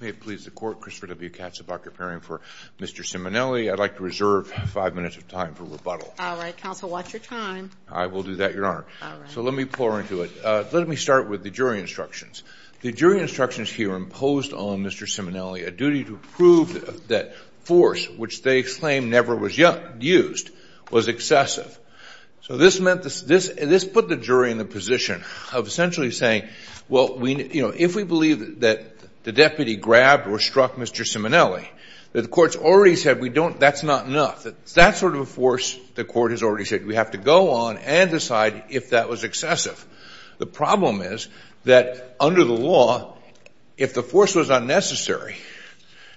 May it please the court, Christopher W. Katzabock, appearing for Mr. Simonelli. I'd like to reserve five minutes of time for rebuttal. All right, counsel, watch your time. I will do that, Your Honor. All right. So let me pour into it. Let me start with the jury instructions. The jury instructions here imposed on Mr. Simonelli a duty to prove that force, which they claim never was used, was excessive. So this put the jury in the position of essentially saying, well, if we believe that the deputy grabbed or struck Mr. Simonelli, that the court's already said that's not enough, that that sort of a force the court has already said we have to go on and decide if that was excessive. The problem is that under the law, if the force was unnecessary,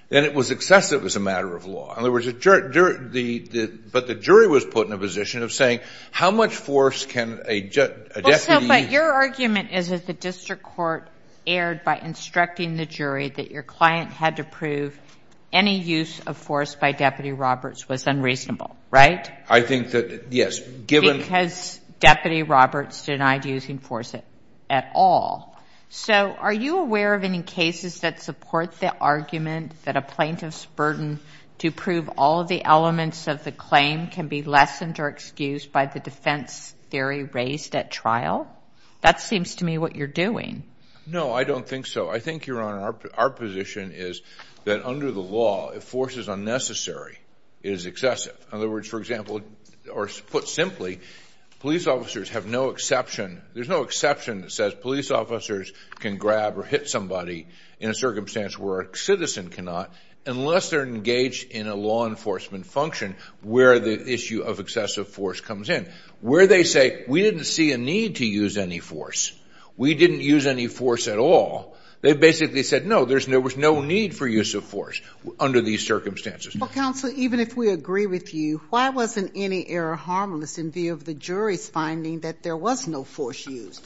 then it was excessive as a matter of law. But the jury was put in a position of saying how much force can a deputy – But your argument is that the district court erred by instructing the jury that your client had to prove any use of force by Deputy Roberts was unreasonable, right? I think that, yes. Because Deputy Roberts denied using force at all. So are you aware of any cases that support the argument that a plaintiff's burden to prove all of the elements of the claim can be lessened or excused by the defense theory raised at trial? That seems to me what you're doing. No, I don't think so. I think, Your Honor, our position is that under the law, if force is unnecessary, it is excessive. In other words, for example, or put simply, police officers have no exception. There's no exception that says police officers can grab or hit somebody in a circumstance where a citizen cannot unless they're engaged in a law enforcement function where the issue of excessive force comes in. Where they say, we didn't see a need to use any force, we didn't use any force at all, they basically said, no, there was no need for use of force under these circumstances. Well, counsel, even if we agree with you, why wasn't any error harmless in view of the jury's finding that there was no force used?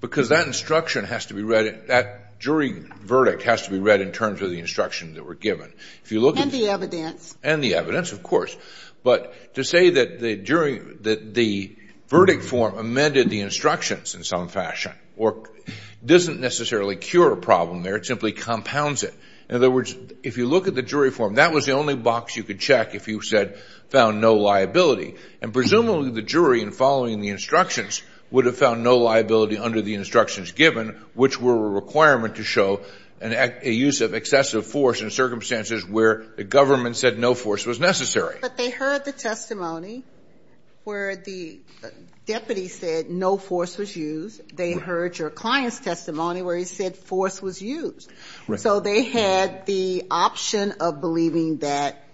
Because that instruction has to be read, that jury verdict has to be read in terms of the instruction that were given. And the evidence. And the evidence, of course. But to say that the verdict form amended the instructions in some fashion doesn't necessarily cure a problem there. It simply compounds it. In other words, if you look at the jury form, that was the only box you could check if you found no liability. And presumably the jury, in following the instructions, would have found no liability under the instructions given, which were a requirement to show a use of excessive force in circumstances where the government said no force was necessary. But they heard the testimony where the deputy said no force was used. They heard your client's testimony where he said force was used. So they had the option of believing that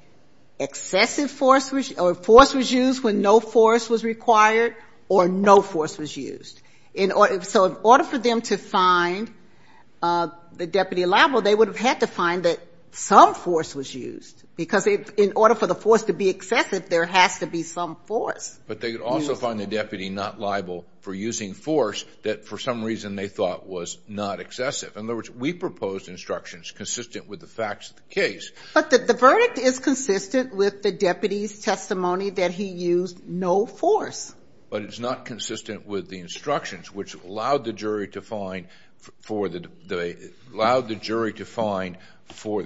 excessive force or force was used when no force was required or no force was used. So in order for them to find the deputy liable, they would have had to find that some force was used. Because in order for the force to be excessive, there has to be some force. But they could also find the deputy not liable for using force that for some reason they thought was not excessive. In other words, we proposed instructions consistent with the facts of the case. But the verdict is consistent with the deputy's testimony that he used no force. But it's not consistent with the instructions which allowed the jury to find for the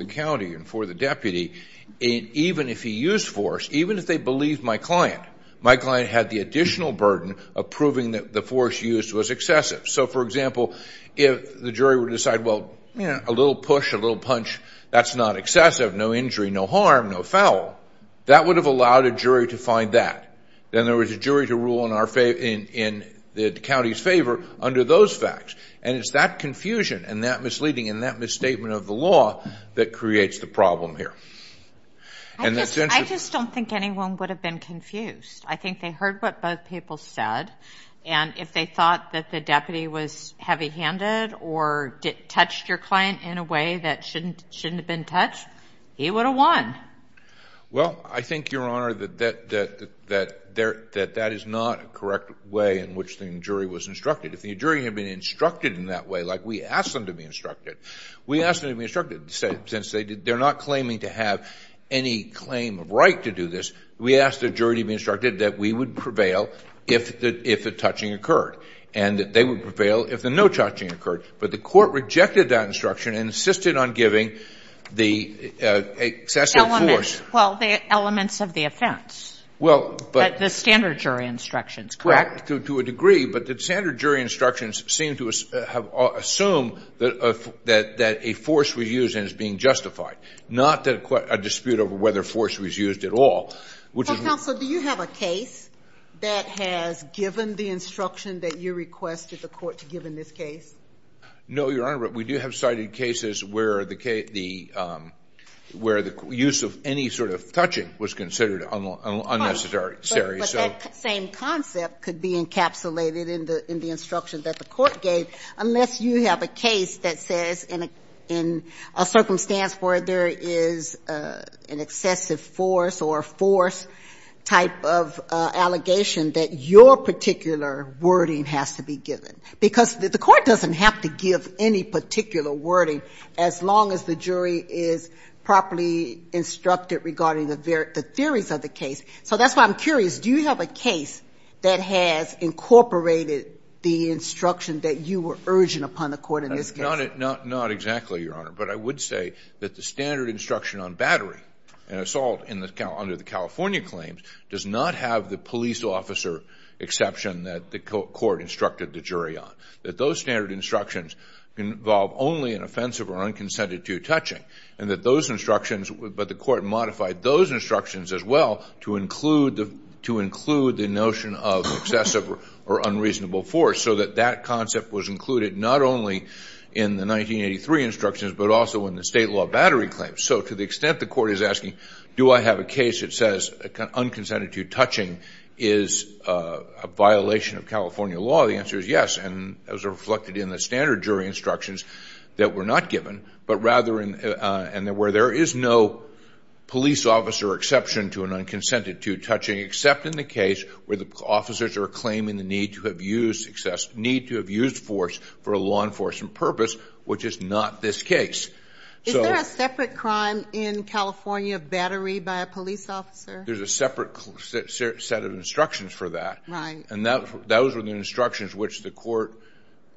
county and for the deputy, even if he used force, even if they believed my client. My client had the additional burden of proving that the force used was excessive. So, for example, if the jury would decide, well, you know, a little push, a little punch, that's not excessive. No injury, no harm, no foul. That would have allowed a jury to find that. Then there was a jury to rule in the county's favor under those facts. And it's that confusion and that misleading and that misstatement of the law that creates the problem here. And that's interesting. I just don't think anyone would have been confused. I think they heard what both people said. And if they thought that the deputy was heavy-handed or touched your client in a way that shouldn't have been touched, he would have won. Well, I think, Your Honor, that that is not a correct way in which the jury was instructed. If the jury had been instructed in that way, like we asked them to be instructed, we asked them to be instructed since they're not claiming to have any claim of right to do this. We asked the jury to be instructed that we would prevail if the touching occurred and that they would prevail if the no touching occurred. But the court rejected that instruction and insisted on giving the excessive force. Well, the elements of the offense, the standard jury instructions, correct? To a degree. But the standard jury instructions seem to assume that a force was used and is being justified, not that a dispute over whether force was used at all. Counsel, do you have a case that has given the instruction that you requested the court to give in this case? No, Your Honor, but we do have cited cases where the use of any sort of touching was considered unnecessary. But that same concept could be encapsulated in the instruction that the court gave, unless you have a case that says in a circumstance where there is an excessive force or a force type of allegation that your particular wording has to be given. Because the court doesn't have to give any particular wording as long as the jury is properly instructed regarding the theories of the case. So that's why I'm curious. Do you have a case that has incorporated the instruction that you were urging upon the court in this case? Not exactly, Your Honor. But I would say that the standard instruction on battery and assault under the California claims does not have the police officer exception that the court instructed the jury on. That those standard instructions involve only an offensive or unconsented to touching. And that those instructions, but the court modified those instructions as well to include the notion of excessive or unreasonable force so that that concept was included not only in the 1983 instructions, but also in the state law battery claims. So to the extent the court is asking do I have a case that says unconsented to touching is a violation of California law, the answer is yes. And that was reflected in the standard jury instructions that were not given, but rather where there is no police officer exception to an unconsented to touching except in the case where the officers are claiming the need to have used force for a law enforcement purpose, which is not this case. Is there a separate crime in California battery by a police officer? There's a separate set of instructions for that. Right. And those were the instructions which the court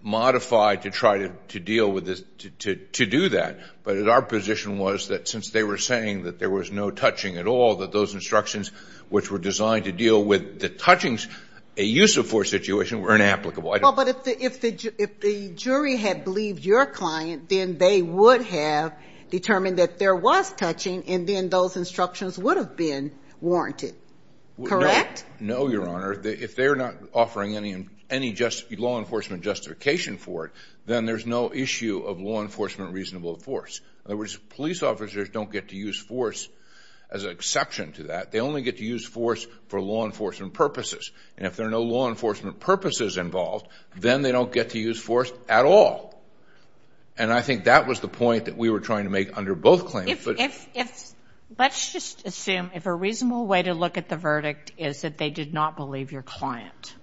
modified to try to deal with this, to do that. But our position was that since they were saying that there was no touching at all, that those instructions which were designed to deal with the touchings, a use of force situation, were inapplicable. Well, but if the jury had believed your client, then they would have determined that there was touching, and then those instructions would have been warranted. Correct? No, Your Honor. If they're not offering any law enforcement justification for it, then there's no issue of law enforcement reasonable force. In other words, police officers don't get to use force as an exception to that. They only get to use force for law enforcement purposes. And if there are no law enforcement purposes involved, then they don't get to use force at all. And I think that was the point that we were trying to make under both claims. Let's just assume if a reasonable way to look at the verdict is that they did not believe your client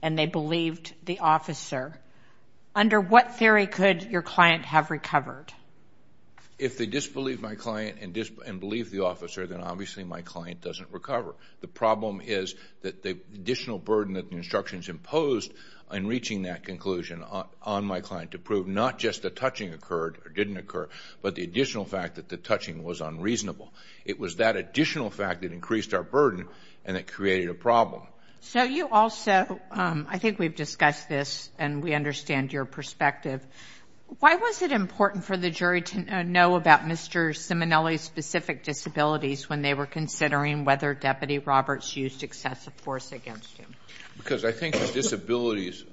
and they believed the officer, under what theory could your client have recovered? If they disbelieve my client and believe the officer, then obviously my client doesn't recover. The problem is that the additional burden that the instructions imposed in reaching that conclusion on my client to prove not just the touching occurred or didn't occur, but the additional fact that the touching was unreasonable. It was that additional fact that increased our burden, and it created a problem. So you also, I think we've discussed this, and we understand your perspective. Why was it important for the jury to know about Mr. Simonelli's specific disabilities when they were considering whether Deputy Roberts used excessive force against him? Because I think his disabilities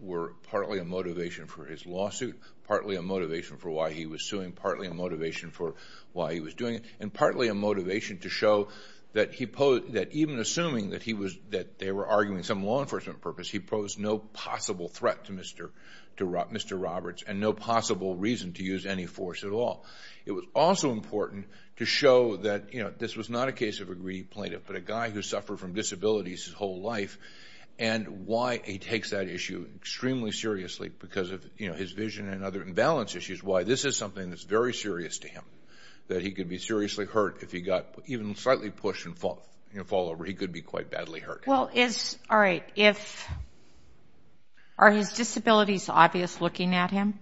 were partly a motivation for his lawsuit, partly a motivation for why he was suing, partly a motivation for why he was doing it, and partly a motivation to show that even assuming that they were arguing some law enforcement purpose, he posed no possible threat to Mr. Roberts and no possible reason to use any force at all. It was also important to show that this was not a case of a greedy plaintiff, but a guy who suffered from disabilities his whole life, and why he takes that issue extremely seriously because of his vision and other imbalance issues, why this is something that's very serious to him, that he could be seriously hurt if he got even slightly pushed and fall over. He could be quite badly hurt. Well, all right. Are his disabilities obvious looking at him?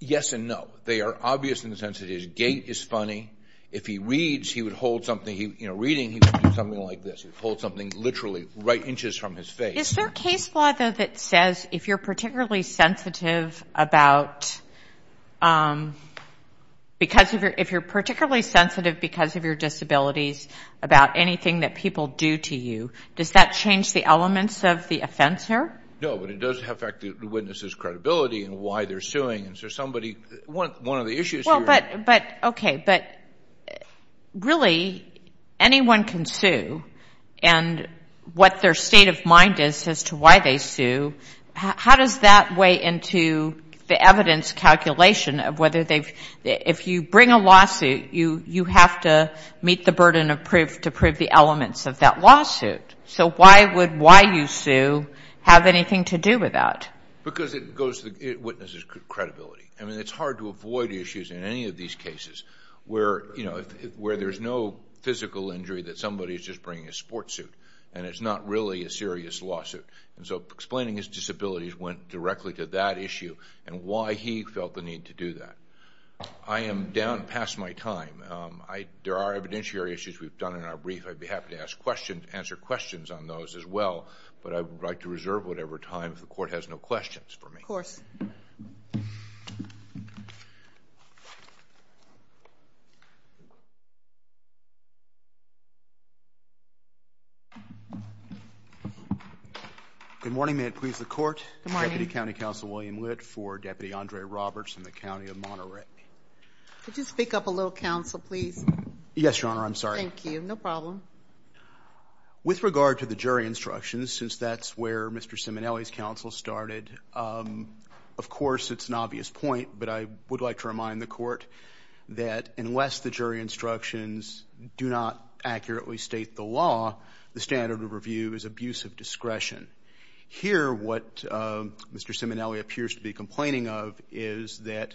Yes and no. They are obvious in the sense that his gait is funny. If he reads, he would hold something. You know, reading, he would do something like this. He would hold something literally right inches from his face. Is there case law, though, that says if you're particularly sensitive because of your disabilities about anything that people do to you, does that change the elements of the offense here? No, but it does affect the witness's credibility and why they're suing. Is there somebody one of the issues here? But, okay, but really anyone can sue, and what their state of mind is as to why they sue, how does that weigh into the evidence calculation of whether they've – if you bring a lawsuit, you have to meet the burden to prove the elements of that lawsuit. So why would why you sue have anything to do with that? Because it goes to the witness's credibility. I mean, it's hard to avoid issues in any of these cases where, you know, where there's no physical injury that somebody's just bringing a sports suit and it's not really a serious lawsuit. And so explaining his disabilities went directly to that issue and why he felt the need to do that. I am down past my time. There are evidentiary issues we've done in our brief. I'd be happy to answer questions on those as well, but I would like to reserve whatever time if the court has no questions for me. Of course. Good morning, and may it please the Court. Good morning. Deputy County Counsel William Witt for Deputy Andre Roberts in the County of Monterey. Could you speak up a little, counsel, please? Yes, Your Honor, I'm sorry. Thank you. No problem. With regard to the jury instructions, since that's where Mr. Simonelli's counsel started, of course it's an obvious point, but I would like to remind the Court that unless the jury instructions do not accurately state the law, the standard of review is abuse of discretion. Here what Mr. Simonelli appears to be complaining of is that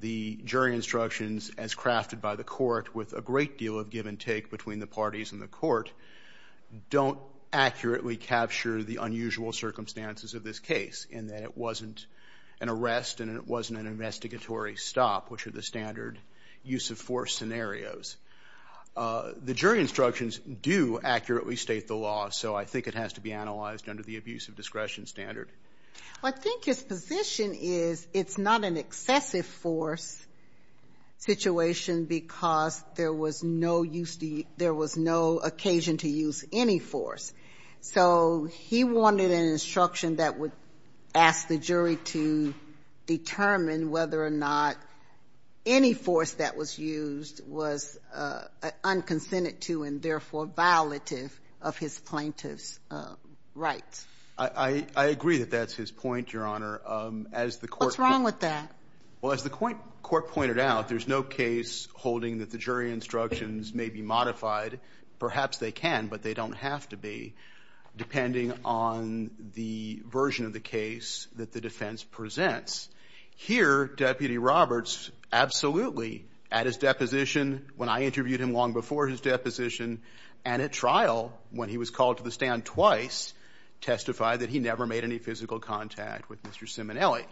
the jury instructions, as crafted by the court with a great deal of give and take between the parties in the court, don't accurately capture the unusual circumstances of this case, in that it wasn't an arrest and it wasn't an investigatory stop, which are the standard use of force scenarios. The jury instructions do accurately state the law, so I think it has to be analyzed under the abuse of discretion standard. Well, I think his position is it's not an excessive force situation because there was no occasion to use any force. So he wanted an instruction that would ask the jury to determine whether or not any force that was used was unconsented to and therefore violative of his plaintiff's rights. I agree that that's his point, Your Honor. What's wrong with that? Well, as the court pointed out, there's no case holding that the jury instructions may be modified. Perhaps they can, but they don't have to be, depending on the version of the case that the defense presents. Here, Deputy Roberts absolutely, at his deposition, when I interviewed him long before his deposition, and at trial, when he was called to the stand twice, testified that he never made any physical contact with Mr. Simonelli.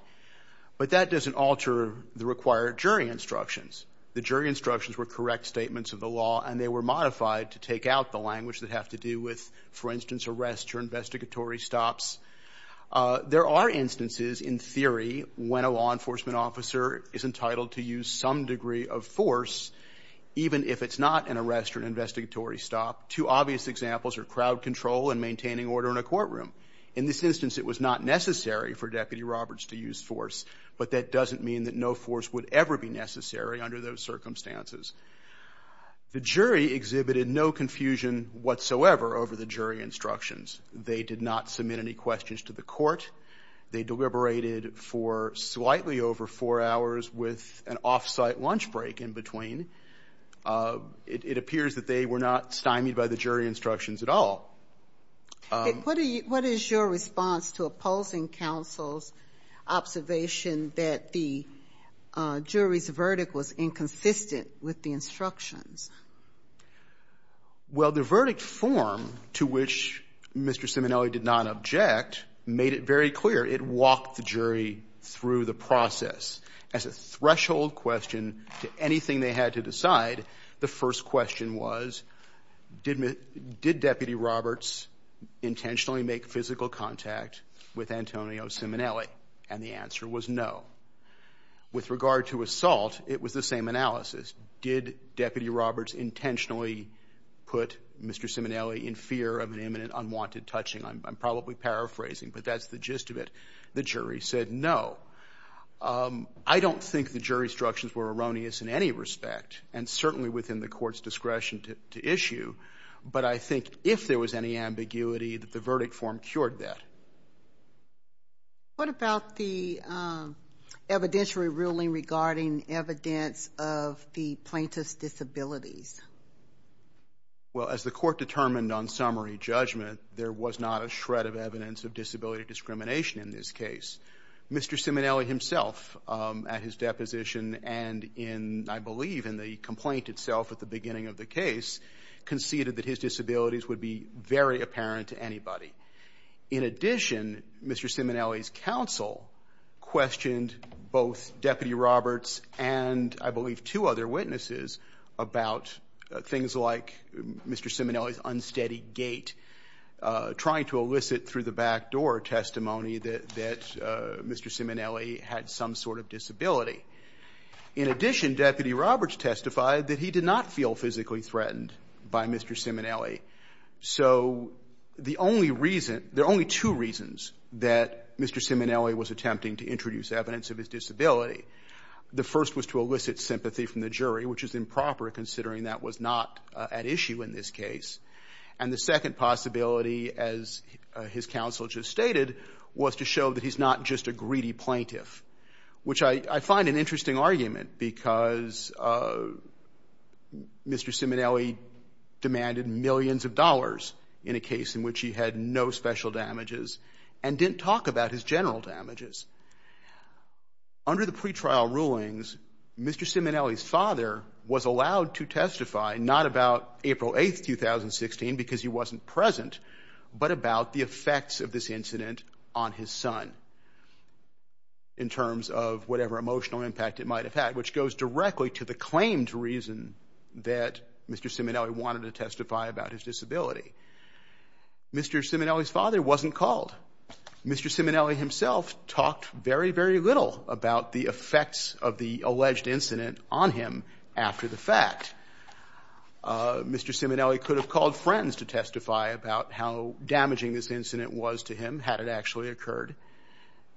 But that doesn't alter the required jury instructions. The jury instructions were correct statements of the law and they were modified to take out the language that have to do with, for instance, arrests or investigatory stops. There are instances, in theory, when a law enforcement officer is entitled to use some degree of force, even if it's not an arrest or an investigatory stop. Two obvious examples are crowd control and maintaining order in a courtroom. In this instance, it was not necessary for Deputy Roberts to use force, but that doesn't mean that no force would ever be necessary under those circumstances. The jury exhibited no confusion whatsoever over the jury instructions. They did not submit any questions to the court. They deliberated for slightly over four hours with an off-site lunch break in between. It appears that they were not stymied by the jury instructions at all. What is your response to opposing counsel's observation that the jury's verdict was inconsistent with the instructions? Well, the verdict form, to which Mr. Simonelli did not object, made it very clear it walked the jury through the process as a threshold question to anything they had to decide. The first question was, did Deputy Roberts intentionally make physical contact with Antonio Simonelli? And the answer was no. With regard to assault, it was the same analysis. Did Deputy Roberts intentionally put Mr. Simonelli in fear of an imminent unwanted touching? I'm probably paraphrasing, but that's the gist of it. The jury said no. I don't think the jury instructions were erroneous in any respect and certainly within the court's discretion to issue, but I think if there was any ambiguity that the verdict form cured that. What about the evidentiary ruling regarding evidence of the plaintiff's disabilities? Well, as the court determined on summary judgment, there was not a shred of evidence of disability discrimination in this case. Mr. Simonelli himself, at his deposition and in, I believe, in the complaint itself at the beginning of the case, conceded that his disabilities would be very apparent to anybody. In addition, Mr. Simonelli's counsel questioned both Deputy Roberts and, I believe, two other witnesses about things like Mr. Simonelli's unsteady gait, trying to elicit through the back door testimony that Mr. Simonelli had some sort of disability. In addition, Deputy Roberts testified that he did not feel physically threatened by Mr. Simonelli. So the only reason, there are only two reasons that Mr. Simonelli was attempting to introduce evidence of his disability. The first was to elicit sympathy from the jury, which is improper considering that was not at issue in this case. And the second possibility, as his counsel just stated, was to show that he's not just a greedy plaintiff, which I find an interesting argument because Mr. Simonelli demanded millions of dollars in a case in which he had no special damages and didn't talk about his general damages. Under the pretrial rulings, Mr. Simonelli's father was allowed to testify not about April 8, 2016, because he wasn't present, but about the effects of this incident on his son in terms of whatever emotional impact it might have had, which goes directly to the claimed reason that Mr. Simonelli wanted to testify about his disability. Mr. Simonelli's father wasn't called. Mr. Simonelli himself talked very, very little about the effects of the alleged incident on him after the fact. Mr. Simonelli could have called friends to testify about how damaging this incident was to him had it actually occurred,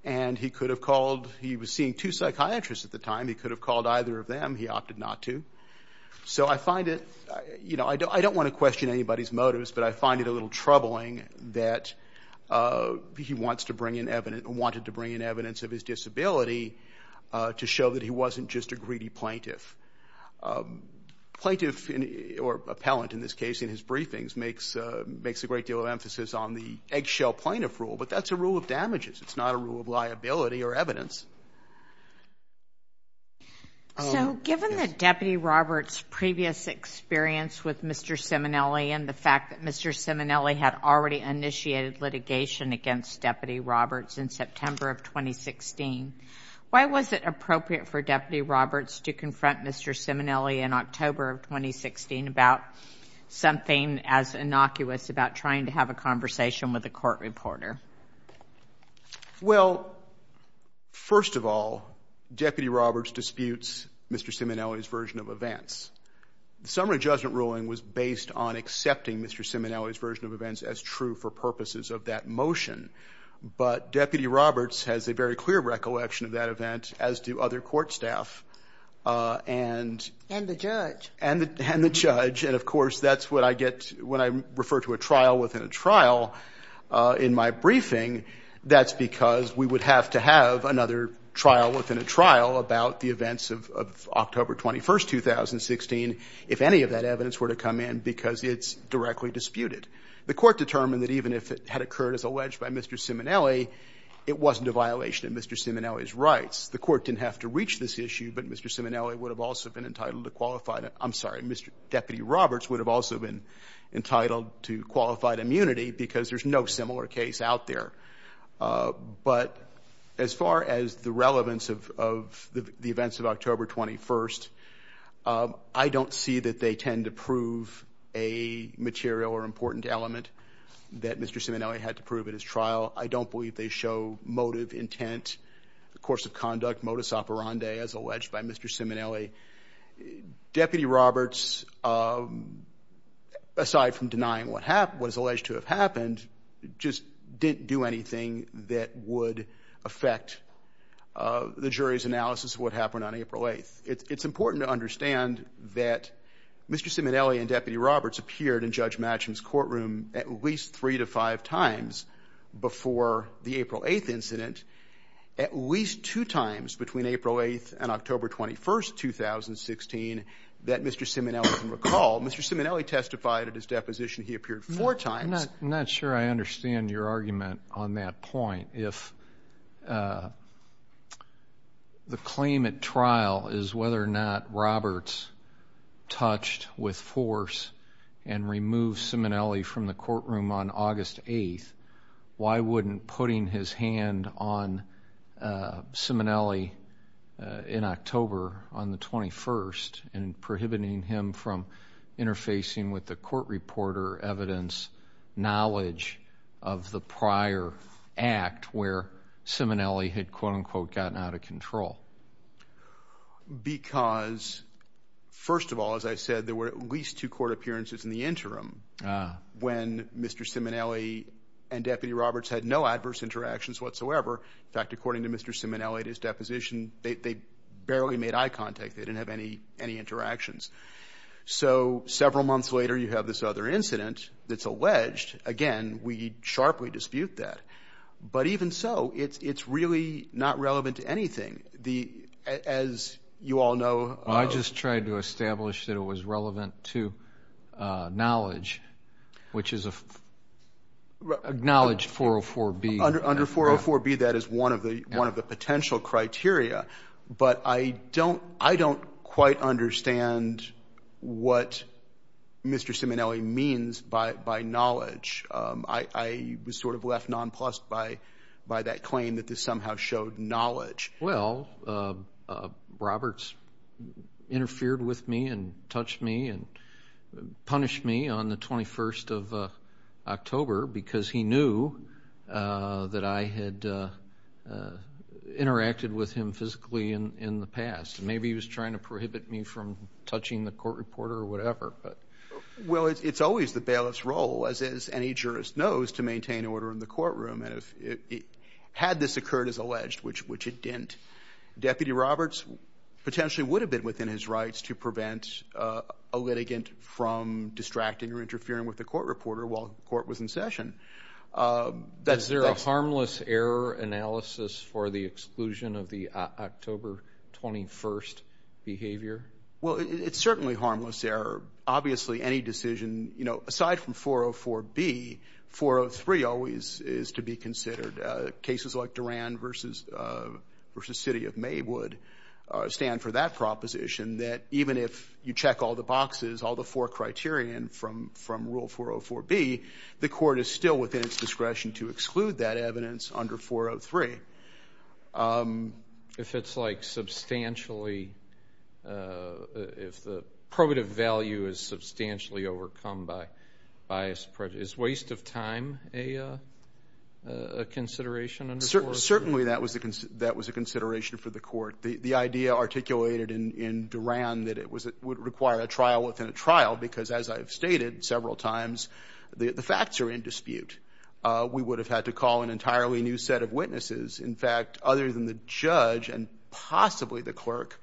and he could have called... He was seeing two psychiatrists at the time. He could have called either of them. He opted not to. So I find it... You know, I don't want to question anybody's motives, but I find it a little troubling that he wants to bring in evidence... wanted to bring in evidence of his disability to show that he wasn't just a greedy plaintiff. Plaintiff, or appellant in this case in his briefings, makes a great deal of emphasis on the eggshell plaintiff rule, but that's a rule of damages. It's not a rule of liability or evidence. So given that Deputy Roberts' previous experience with Mr. Simonelli and the fact that Mr. Simonelli had already initiated litigation against Deputy Roberts in September of 2016, why was it appropriate for Deputy Roberts to confront Mr. Simonelli in October of 2016 about something as innocuous about trying to have a conversation with a court reporter? Well, first of all, Deputy Roberts disputes Mr. Simonelli's version of events. The summary judgment ruling was based on accepting Mr. Simonelli's version of events as true for purposes of that motion, but Deputy Roberts has a very clear recollection of that event, as do other court staff and... And the judge. And the judge, and of course that's what I get when I refer to a trial within a trial in my briefing. That's because we would have to have another trial within a trial about the events of October 21, 2016, if any of that evidence were to come in, because it's directly disputed. The Court determined that even if it had occurred as alleged by Mr. Simonelli, it wasn't a violation of Mr. Simonelli's rights. The Court didn't have to reach this issue, but Mr. Simonelli would have also been entitled to qualified immunity. I'm sorry, Deputy Roberts would have also been entitled to qualified immunity because there's no similar case out there. But as far as the relevance of the events of October 21, I don't see that they tend to prove a material or important element that Mr. Simonelli had to prove at his trial. I don't believe they show motive, intent, course of conduct, modus operandi as alleged by Mr. Simonelli. Deputy Roberts, aside from denying what was alleged to have happened, just didn't do anything that would affect the jury's analysis of what happened on April 8th. It's important to understand that Mr. Simonelli and Deputy Roberts appeared in Judge Matcham's courtroom at least three to five times before the April 8th incident, at least two times between April 8th and October 21st, 2016, that Mr. Simonelli can recall. Mr. Simonelli testified at his deposition he appeared four times. I'm not sure I understand your argument on that point. If the claim at trial is whether or not Roberts touched with force and removed Simonelli from the courtroom on August 8th, why wouldn't putting his hand on Simonelli in October on the 21st and prohibiting him from interfacing with the court reporter evidence knowledge of the prior act where Simonelli had quote-unquote gotten out of control? Because, first of all, as I said, there were at least two court appearances in the interim when Mr. Simonelli and Deputy Roberts had no adverse interactions whatsoever. In fact, according to Mr. Simonelli at his deposition, they barely made eye contact. They didn't have any interactions. So several months later, you have this other incident that's alleged. Again, we sharply dispute that. But even so, it's really not relevant to anything. As you all know, I just tried to establish that it was relevant to knowledge, which is acknowledged 404B. Under 404B, that is one of the potential criteria. But I don't quite understand what Mr. Simonelli means by knowledge. I was sort of left nonplussed by that claim that this somehow showed knowledge. Well, Roberts interfered with me and touched me and punished me on the 21st of October because he knew that I had interacted with him physically in the past. Maybe he was trying to prohibit me from touching the court reporter or whatever. Well, it's always the bailiff's role, as any jurist knows, to maintain order in the courtroom. Had this occurred as alleged, which it didn't, Deputy Roberts potentially would have been within his rights to prevent a litigant from distracting or interfering with the court reporter while the court was in session. Is there a harmless error analysis for the exclusion of the October 21st behavior? Well, it's certainly harmless error. Obviously, any decision, you know, aside from 404B, 403 always is to be considered. Cases like Duran versus City of Maywood stand for that proposition, that even if you check all the boxes, all the four criterion from Rule 404B, the court is still within its discretion to exclude that evidence under 403. If it's like substantially, if the probative value is substantially overcome by bias prejudice, is waste of time a consideration? Certainly that was a consideration for the court. The idea articulated in Duran that it would require a trial within a trial because, as I've stated several times, the facts are in dispute. We would have had to call an entirely new set of witnesses. In fact, other than the judge and possibly the clerk,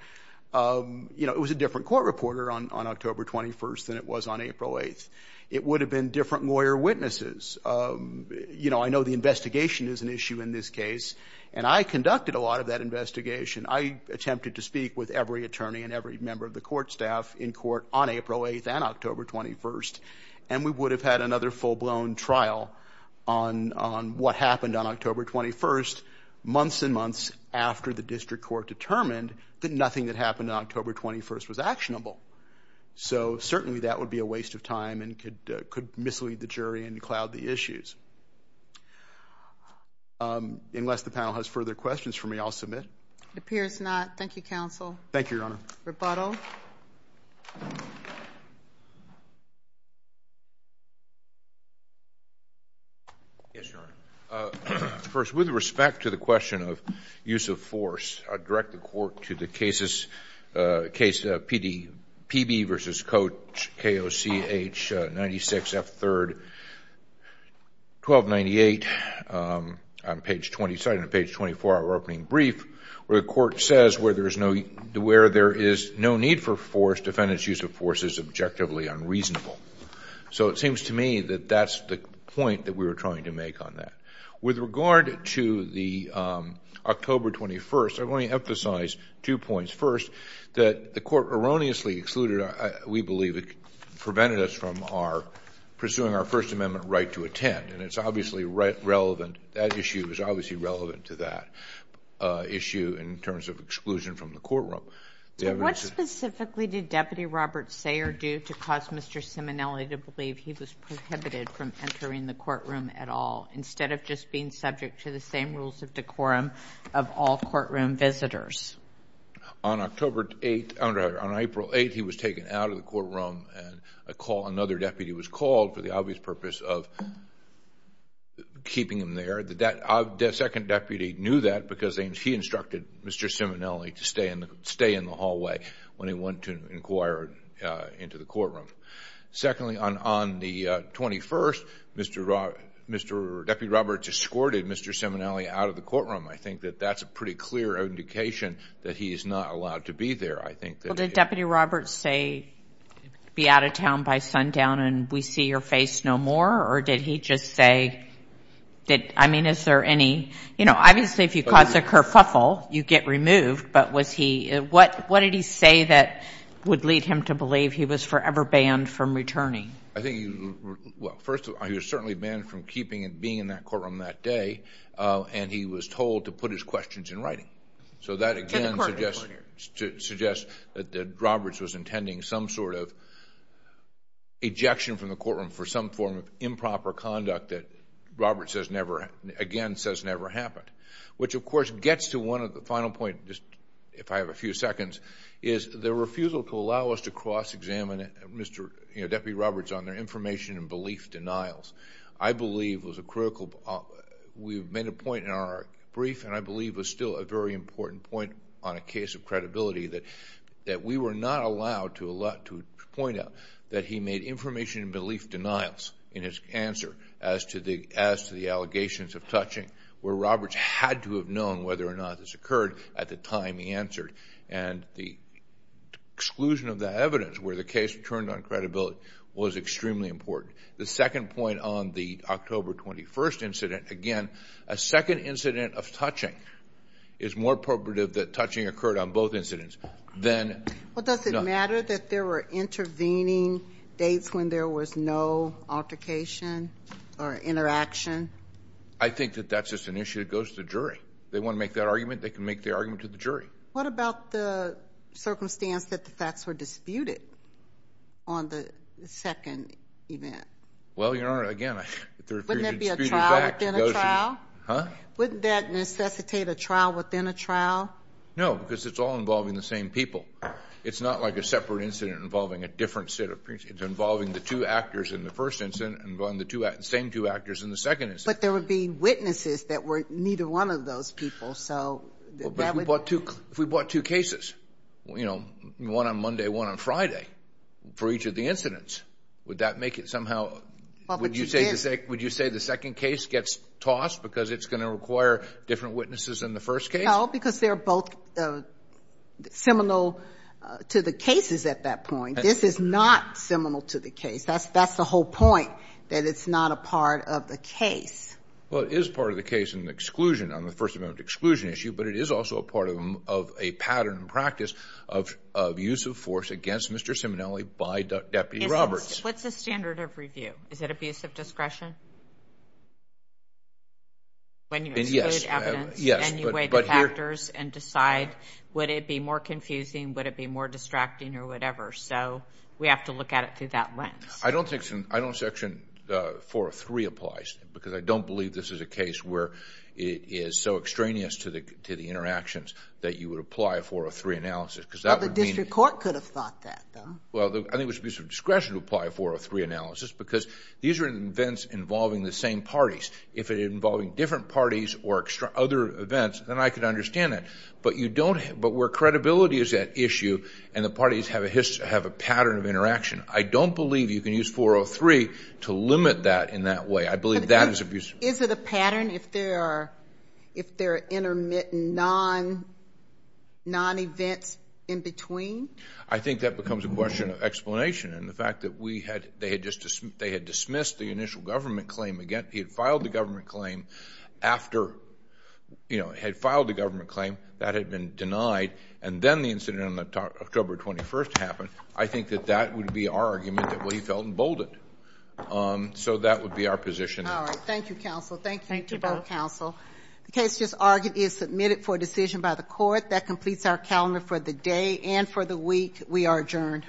you know, it was a different court reporter on October 21st than it was on April 8th. It would have been different lawyer witnesses. You know, I know the investigation is an issue in this case, and I conducted a lot of that investigation. I attempted to speak with every attorney and every member of the court staff in court on April 8th and October 21st, and we would have had another full-blown trial on what happened on October 21st, months and months after the district court determined that nothing that happened on October 21st was actionable. So certainly that would be a waste of time and could mislead the jury and cloud the issues. Unless the panel has further questions for me, I'll submit. It appears not. Thank you, counsel. Thank you, Your Honor. Rebuttal. Yes, Your Honor. First, with respect to the question of use of force, I direct the court to the case PB v. Coach, K.O.C.H. 96 F. 3rd, 1298, on page 24 of our opening brief, where the court says where there is no need for force, defendant's use of force is objectively unreasonable. So it seems to me that that's the point that we were trying to make on that. With regard to the October 21st, I want to emphasize two points. First, that the court erroneously excluded, we believe, prevented us from pursuing our First Amendment right to attend, and it's obviously relevant. That issue is obviously relevant to that issue in terms of exclusion from the courtroom. What specifically did Deputy Robert Sayre do to cause Mr. Simonelli to believe he was prohibited from entering the courtroom at all instead of just being subject to the same rules of decorum of all courtroom visitors? On April 8th, he was taken out of the courtroom, and another deputy was called for the obvious purpose of keeping him there. The second deputy knew that because he instructed Mr. Simonelli to stay in the hallway Secondly, on the 21st, Deputy Roberts escorted Mr. Simonelli out of the courtroom. I think that that's a pretty clear indication that he is not allowed to be there. Well, did Deputy Roberts say, be out of town by sundown and we see your face no more? Or did he just say that, I mean, is there any, you know, obviously if you cause a kerfuffle, you get removed. But what did he say that would lead him to believe he was forever banned from returning? I think, well, first of all, he was certainly banned from keeping and being in that courtroom that day, and he was told to put his questions in writing. So that again suggests that Roberts was intending some sort of ejection from the courtroom for some form of improper conduct that Roberts again says never happened, which of course gets to one of the final points, if I have a few seconds, is the refusal to allow us to cross-examine Deputy Roberts on their information and belief denials. I believe was a critical, we've made a point in our brief, and I believe was still a very important point on a case of credibility that we were not allowed to point out that he made information and belief denials in his answer as to the allegations of touching, where Roberts had to have known whether or not this occurred at the time he answered. And the exclusion of that evidence where the case turned on credibility was extremely important. The second point on the October 21st incident, again, a second incident of touching is more appropriate that touching occurred on both incidents. Well, does it matter that there were intervening dates when there was no altercation or interaction? I think that that's just an issue that goes to the jury. If they want to make that argument, they can make their argument to the jury. What about the circumstance that the facts were disputed on the second event? Well, Your Honor, again, the refusal to dispute a fact goes to the jury. Wouldn't that be a trial within a trial? Huh? Wouldn't that necessitate a trial within a trial? No, because it's all involving the same people. It's not like a separate incident involving a different set of people. It's involving the two actors in the first incident and the same two actors in the second incident. But there would be witnesses that were neither one of those people, so that would— Well, but if we brought two cases, you know, one on Monday, one on Friday, for each of the incidents, would that make it somehow— Well, but you did. Would you say the second case gets tossed because it's going to require different witnesses in the first case? No, because they're both seminal to the cases at that point. This is not seminal to the case. That's the whole point, that it's not a part of the case. Well, it is part of the case in the exclusion, on the First Amendment exclusion issue, but it is also a part of a pattern and practice of use of force against Mr. Simonelli by Deputy Roberts. What's the standard of review? Is it abuse of discretion when you exclude evidence and you weigh the facts? You weigh the factors and decide, would it be more confusing, would it be more distracting or whatever? So we have to look at it through that lens. I don't think section 403 applies because I don't believe this is a case where it is so extraneous to the interactions that you would apply a 403 analysis because that would mean— Well, the district court could have thought that, though. Well, I think it was abuse of discretion to apply a 403 analysis because these are events involving the same parties. If it is involving different parties or other events, then I could understand that. But where credibility is at issue and the parties have a pattern of interaction, I don't believe you can use 403 to limit that in that way. I believe that is abuse of discretion. Is it a pattern if there are intermittent non-events in between? I think that becomes a question of explanation. And the fact that they had dismissed the initial government claim, he had filed the government claim, that had been denied, and then the incident on October 21st happened, I think that that would be our argument that he felt emboldened. So that would be our position. All right. Thank you, counsel. Thank you both, counsel. The case just argued is submitted for decision by the court. That completes our calendar for the day and for the week. We are adjourned.